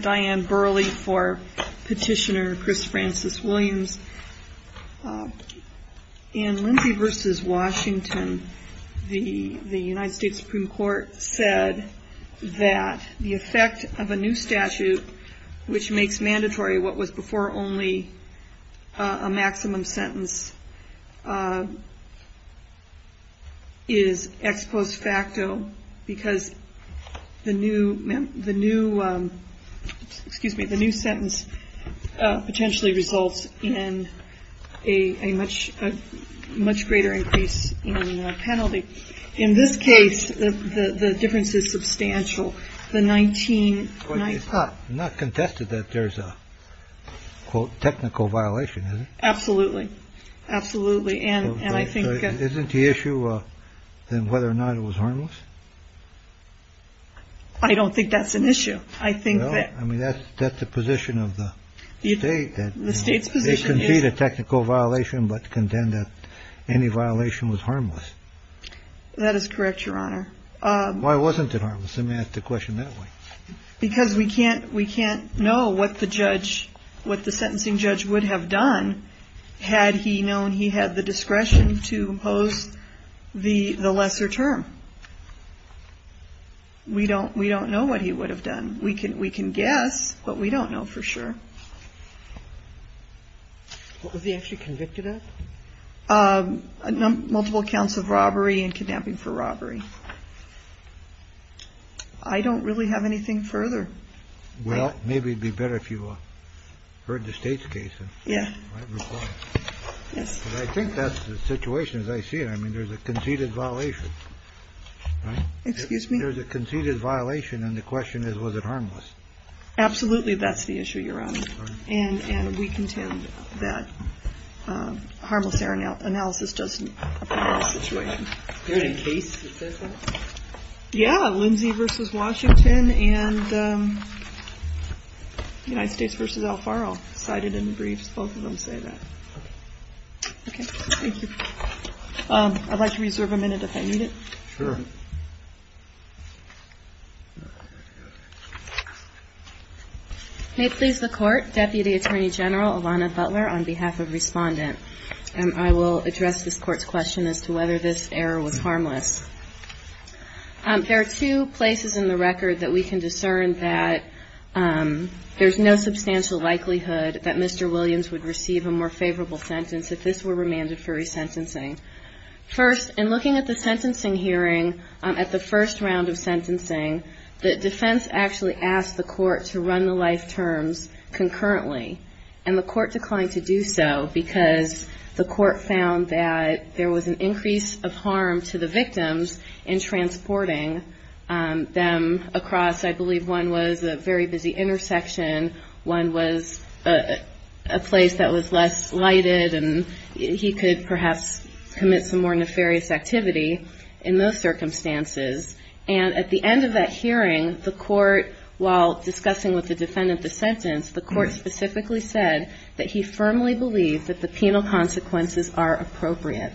Diane Burley for Petitioner Chris Francis Williams. In Lindsey v. Washington, the U.S. Supreme Court said that the effect of a new statute which makes mandatory what was before only a maximum sentence is ex post facto because the new excuse me, the new sentence potentially results in a much, much greater increase in penalty. In this case, the difference is substantial. The 19. It's not not contested that there's a quote technical violation. Absolutely. Absolutely. And I think isn't the issue then whether or not it was harmless. I don't think that's an issue. I think that I mean, that's that's the position of the state that the state's position is indeed a technical violation, but contend that any violation was harmless. That is correct, Your Honor. Why wasn't it? I'm going to ask the question that way because we can't we can't know what the judge what the sentencing judge would have done had he known he had the discretion to impose the lesser term. We don't we don't know what he would have done. We can we can guess, but we don't know for sure what was he actually convicted of multiple counts of robbery and kidnapping for robbery. I don't really have anything further. Well, maybe it'd be better if you heard the state's case. Yeah. Yes. I think that's the situation, as I see it. I mean, there's a conceded violation. Excuse me. There's a conceded violation. And the question is, was it harmless? Absolutely. That's the issue you're on. And we contend that harmless air now analysis doesn't sit right here in case. Yeah. Lindsay versus Washington and the United States versus Al Faro cited in the briefs. Both of them say that. OK, thank you. I'd like to reserve a minute if I need it. Sure. May it please the court, Deputy Attorney General Ilana Butler, on behalf of respondent. And I will address this court's question as to whether this error was harmless. There are two places in the record that we can discern that there's no substantial likelihood that Mr. Williams would receive a more favorable sentence if this were remanded for resentencing. First, in looking at the sentencing hearing at the first round of sentencing, the defense actually asked the court to run the life terms concurrently and the court declined to do so because the court found that there was an increase of harm to the victims in transporting them across. I believe one was a very busy intersection. One was a place that was less lighted. And he could perhaps commit some more nefarious activity in those circumstances. And at the end of that hearing, the court, while discussing with the defendant the sentence, the court specifically said that he firmly believed that the penal consequences are appropriate.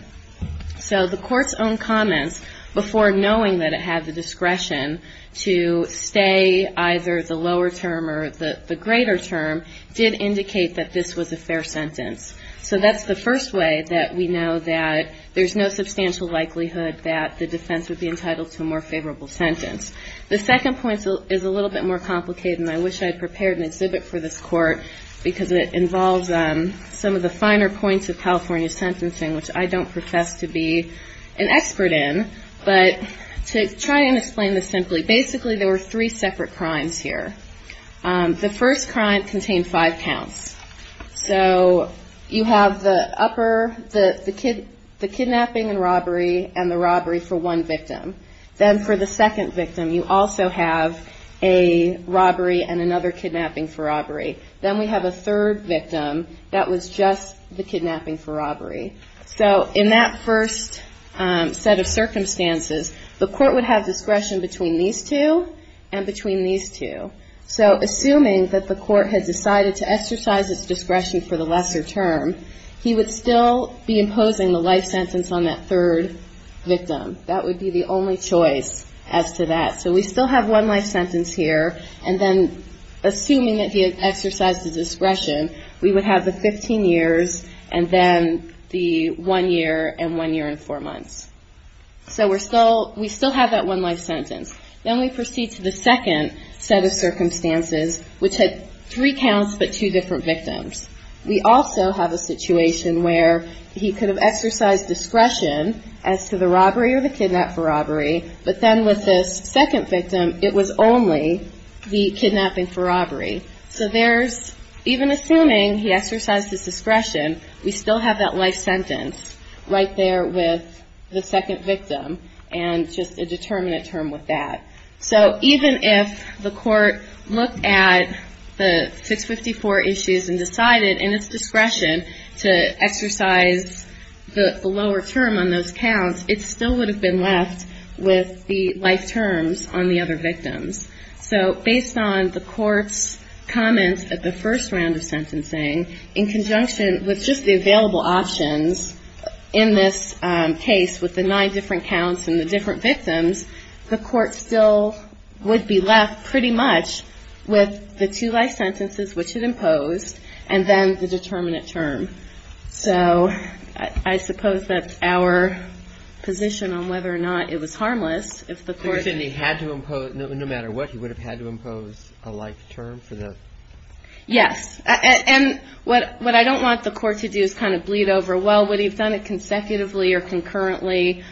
So the court's own comments, before knowing that it had the discretion to stay either the lower term or the greater term, did indicate that this was a fair sentence. So that's the first way that we know that there's no substantial likelihood that the defense would be entitled to a more favorable sentence. The second point is a little bit more complicated and I wish I had prepared an exhibit for this court because it involves some of the finer points of California sentencing which I don't profess to be an expert in. But to try and explain this simply, basically there were three separate crimes here. The first crime contained five counts. So you have the upper, the kidnapping and robbery, and the robbery for one victim. Then for the second victim, you also have a robbery and another kidnapping for robbery. Then we have a third victim that was just the kidnapping for robbery. So in that first set of circumstances, the court would have discretion between these two and between these two. So assuming that the court had decided to exercise its discretion for the lesser term, he would still be imposing the life sentence on that third victim. That would be the only choice as to that. So we still have one life sentence here and then assuming that he had exercised his discretion, we would have the 15 years and then the one year and one year and four months. So we still have that one life sentence. Then we proceed to the second set of circumstances which had three counts but two different victims. We also have a situation where he could have exercised discretion as to the robbery or the kidnap for robbery, but then with this second victim, it was only the kidnapping for robbery. So there's, even assuming he exercised his discretion, we still have that life sentence right there with the second victim and just a determinate term with that. So even if the court looked at the 654 issues and decided in its discretion to exercise the lower term on those counts, it still would have been left with the life terms on the other victims. So based on the court's comments at the first round of sentencing, in conjunction with just the available options in this case with the nine different counts and the different victims, the court still would be left pretty much with the two life sentences which it imposed and then the determinate term. So I suppose that's our position on whether or not it was harmless if the court... If he had to impose, no matter what, he would have had to impose a life term for the... Yes, and what I don't want the court to do is kind of bleed over, well, would he have done it consecutively or concurrently?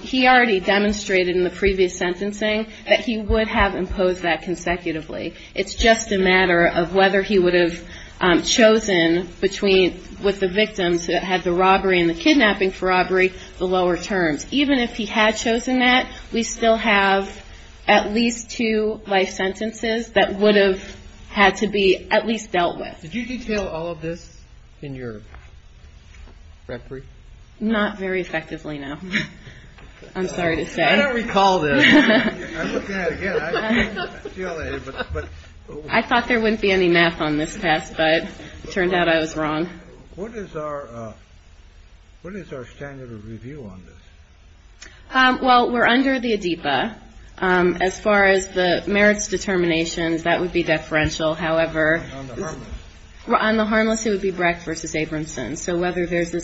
He already demonstrated in the previous sentencing that he would have imposed that consecutively. It's just a matter of whether he would have chosen between, with the victims that had the robbery and the kidnapping for robbery, the lower terms. Even if he had chosen that, we still have at least two life sentences that would have had to be at least dealt with. Did you detail all of this in your referee? Not very effectively, no. I'm sorry to say. I don't recall this. I'm looking at it again. I didn't deal with it, but... I thought there wouldn't be any math on this test, but it turned out I was wrong. What is our standard of review on this? Well, we're under the ADEPA. As far as the merits determinations, that would be deferential. However, on the harmless, it would be Brecht versus Abramson. So whether there's a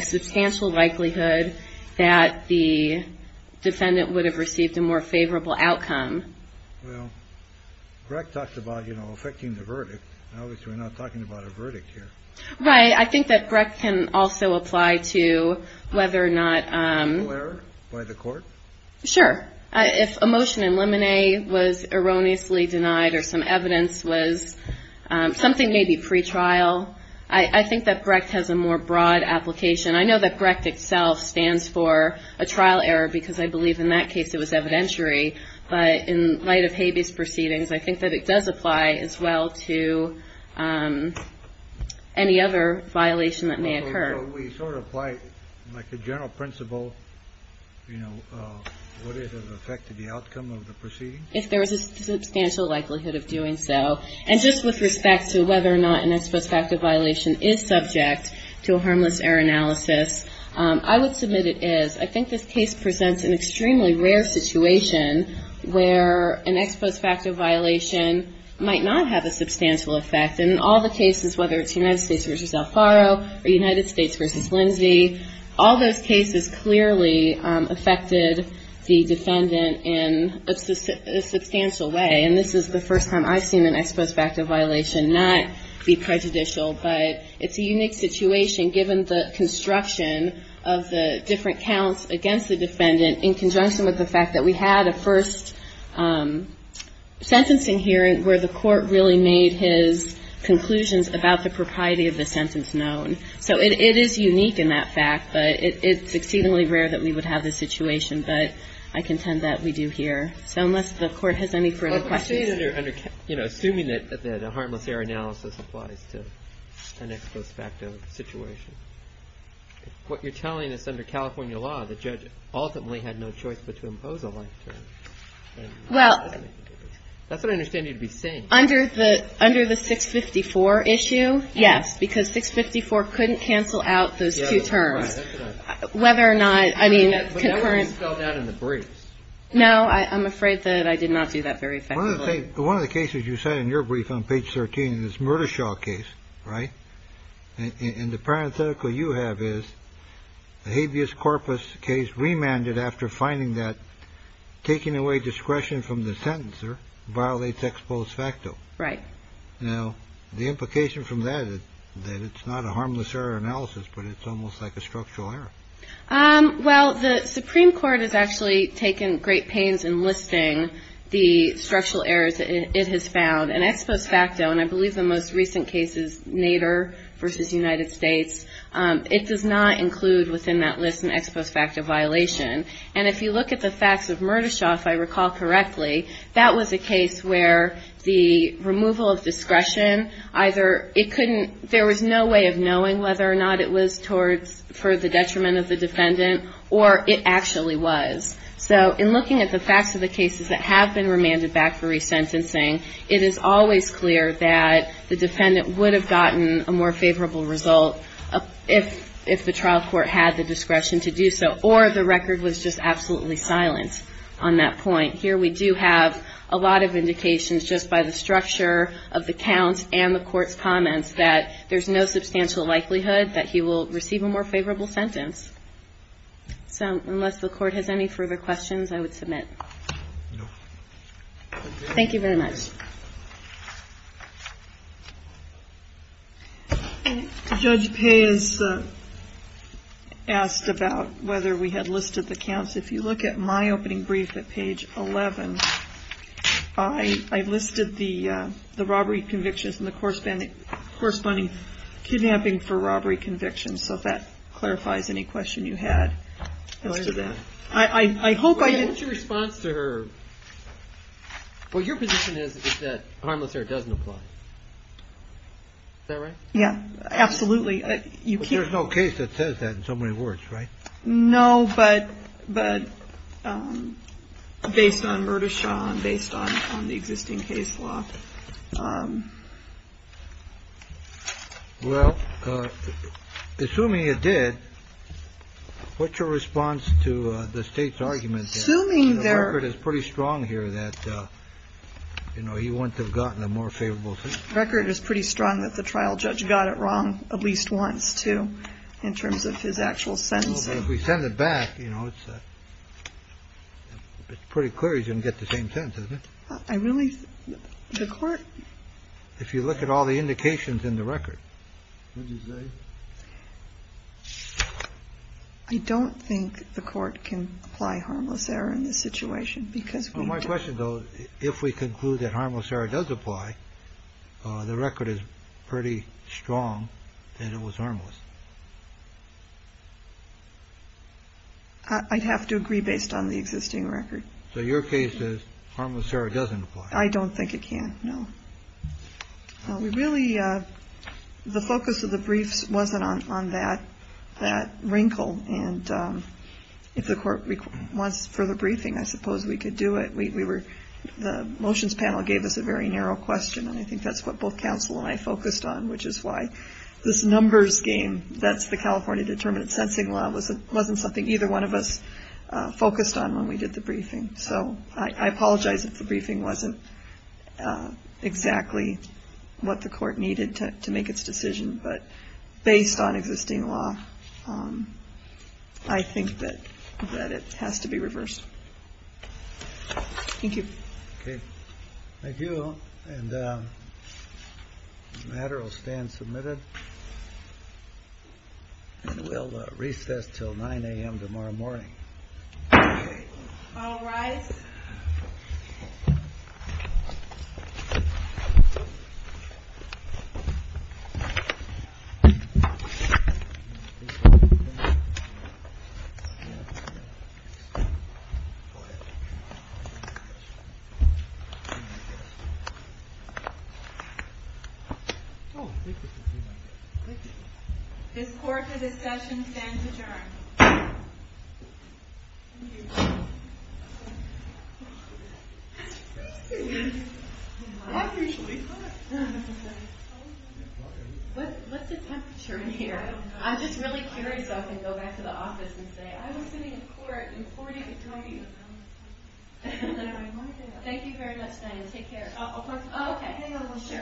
substantial likelihood that the defendant would have received a more favorable outcome. Well, Brecht talked about, you know, affecting the verdict. Obviously, we're not talking about a verdict here. Right. I think that Brecht can also apply to whether or not... Legal error by the court? Sure. If a motion in Lemonet was erroneously denied or some evidence was, something maybe pretrial. I think that Brecht has a more broad application. I know that Brecht itself stands for a trial error because I believe in that case it was evidentiary. But in light of Habeas Proceedings, I think that it does apply as well to any other violation that may occur. So we sort of apply like a general principle, you know, would it have affected the outcome of the proceeding? If there was a substantial likelihood of doing so. And just with respect to whether or not an ex post facto violation is subject to a harmless error analysis, I would submit it is. I think this case presents an extremely rare situation where an ex post facto violation might not have a substantial effect. And in all the cases, whether it's United States versus El Faro or United States versus Lindsay, all those cases clearly affected the defendant in a substantial way. And this is the first time I've seen an ex post facto violation not be prejudicial. But it's a unique situation given the construction of the different counts against the defendant in conjunction with the fact that we had a first sentencing hearing where the court really made his conclusions about the propriety of the sentence known. So it is unique in that fact, but it's exceedingly rare that we would have this situation. But I contend that we do here. So unless the Court has any further questions. I mean, under, you know, assuming that a harmless error analysis applies to an ex post facto situation. What you're telling us under California law, the judge ultimately had no choice but to impose a life term. Well. That's what I understand you to be saying. Under the 654 issue, yes, because 654 couldn't cancel out those two terms. Whether or not, I mean, concurrent. But that was spelled out in the briefs. No, I'm afraid that I did not do that very effectively. One of the cases you said in your brief on page 13 is Murdershaw case. Right. And the parenthetical you have is the habeas corpus case remanded after finding that taking away discretion from the sentencer violates ex post facto. Right. Now, the implication from that is that it's not a harmless error analysis, but it's almost like a structural error. Well, the Supreme Court has actually taken great pains in listing the structural errors it has found. And ex post facto, and I believe the most recent case is Nader versus United States. It does not include within that list an ex post facto violation. And if you look at the facts of Murdershaw, if I recall correctly, that was a case where the removal of discretion either it couldn't. There was no way of knowing whether or not it was for the detriment of the defendant or it actually was. So in looking at the facts of the cases that have been remanded back for resentencing, it is always clear that the defendant would have gotten a more favorable result if the trial court had the discretion to do so. Or the record was just absolutely silent on that point. Here we do have a lot of indications just by the structure of the counts and the court's comments that there's no substantial likelihood that he will receive a more favorable sentence. So unless the court has any further questions, I would submit. Thank you very much. Judge Paye has asked about whether we had listed the counts. If you look at my opening brief at page 11, I listed the robbery convictions and the corresponding kidnapping for robbery convictions. So if that clarifies any question you had as to that, I hope I didn't. What's your response to her? Well, your position is that harmless error doesn't apply. Is that right? Yeah, absolutely. You keep. There's no case that says that in so many words, right? No, but but based on murder, Sean, based on the existing case law. Well, assuming you did. What's your response to the state's argument? Assuming there is pretty strong here that, you know, you wouldn't have gotten a more favorable record is pretty strong that the trial judge got it wrong at least once, too, in terms of his actual sentence. So if we send it back, you know, it's pretty clear you didn't get the same sentence. I really the court. If you look at all the indications in the record. I don't think the court can apply harmless error in this situation because my question, though, if we conclude that harmless error does apply, the record is pretty strong that it was harmless. I'd have to agree based on the existing record. So your case is harmless error doesn't apply. I don't think it can. No, we really the focus of the briefs wasn't on on that that wrinkle. And if the court wants further briefing, I suppose we could do it. We were the motions panel gave us a very narrow question, and I think that's what both counsel and I focused on, which is why this numbers game. That's the California determinate sensing law was it wasn't something either one of us focused on when we did the briefing. So I apologize if the briefing wasn't exactly what the court needed to make its decision. But based on existing law, I think that that it has to be reversed. Thank you. Thank you. And the matter will stand submitted and we'll recess till nine a.m. tomorrow morning. All right. Oh, this court, the discussion stands adjourned. What's the temperature here? I'm just really curious. I can go back to the office and say I was sitting in court in court. Thank you very much. Take care. OK, sure.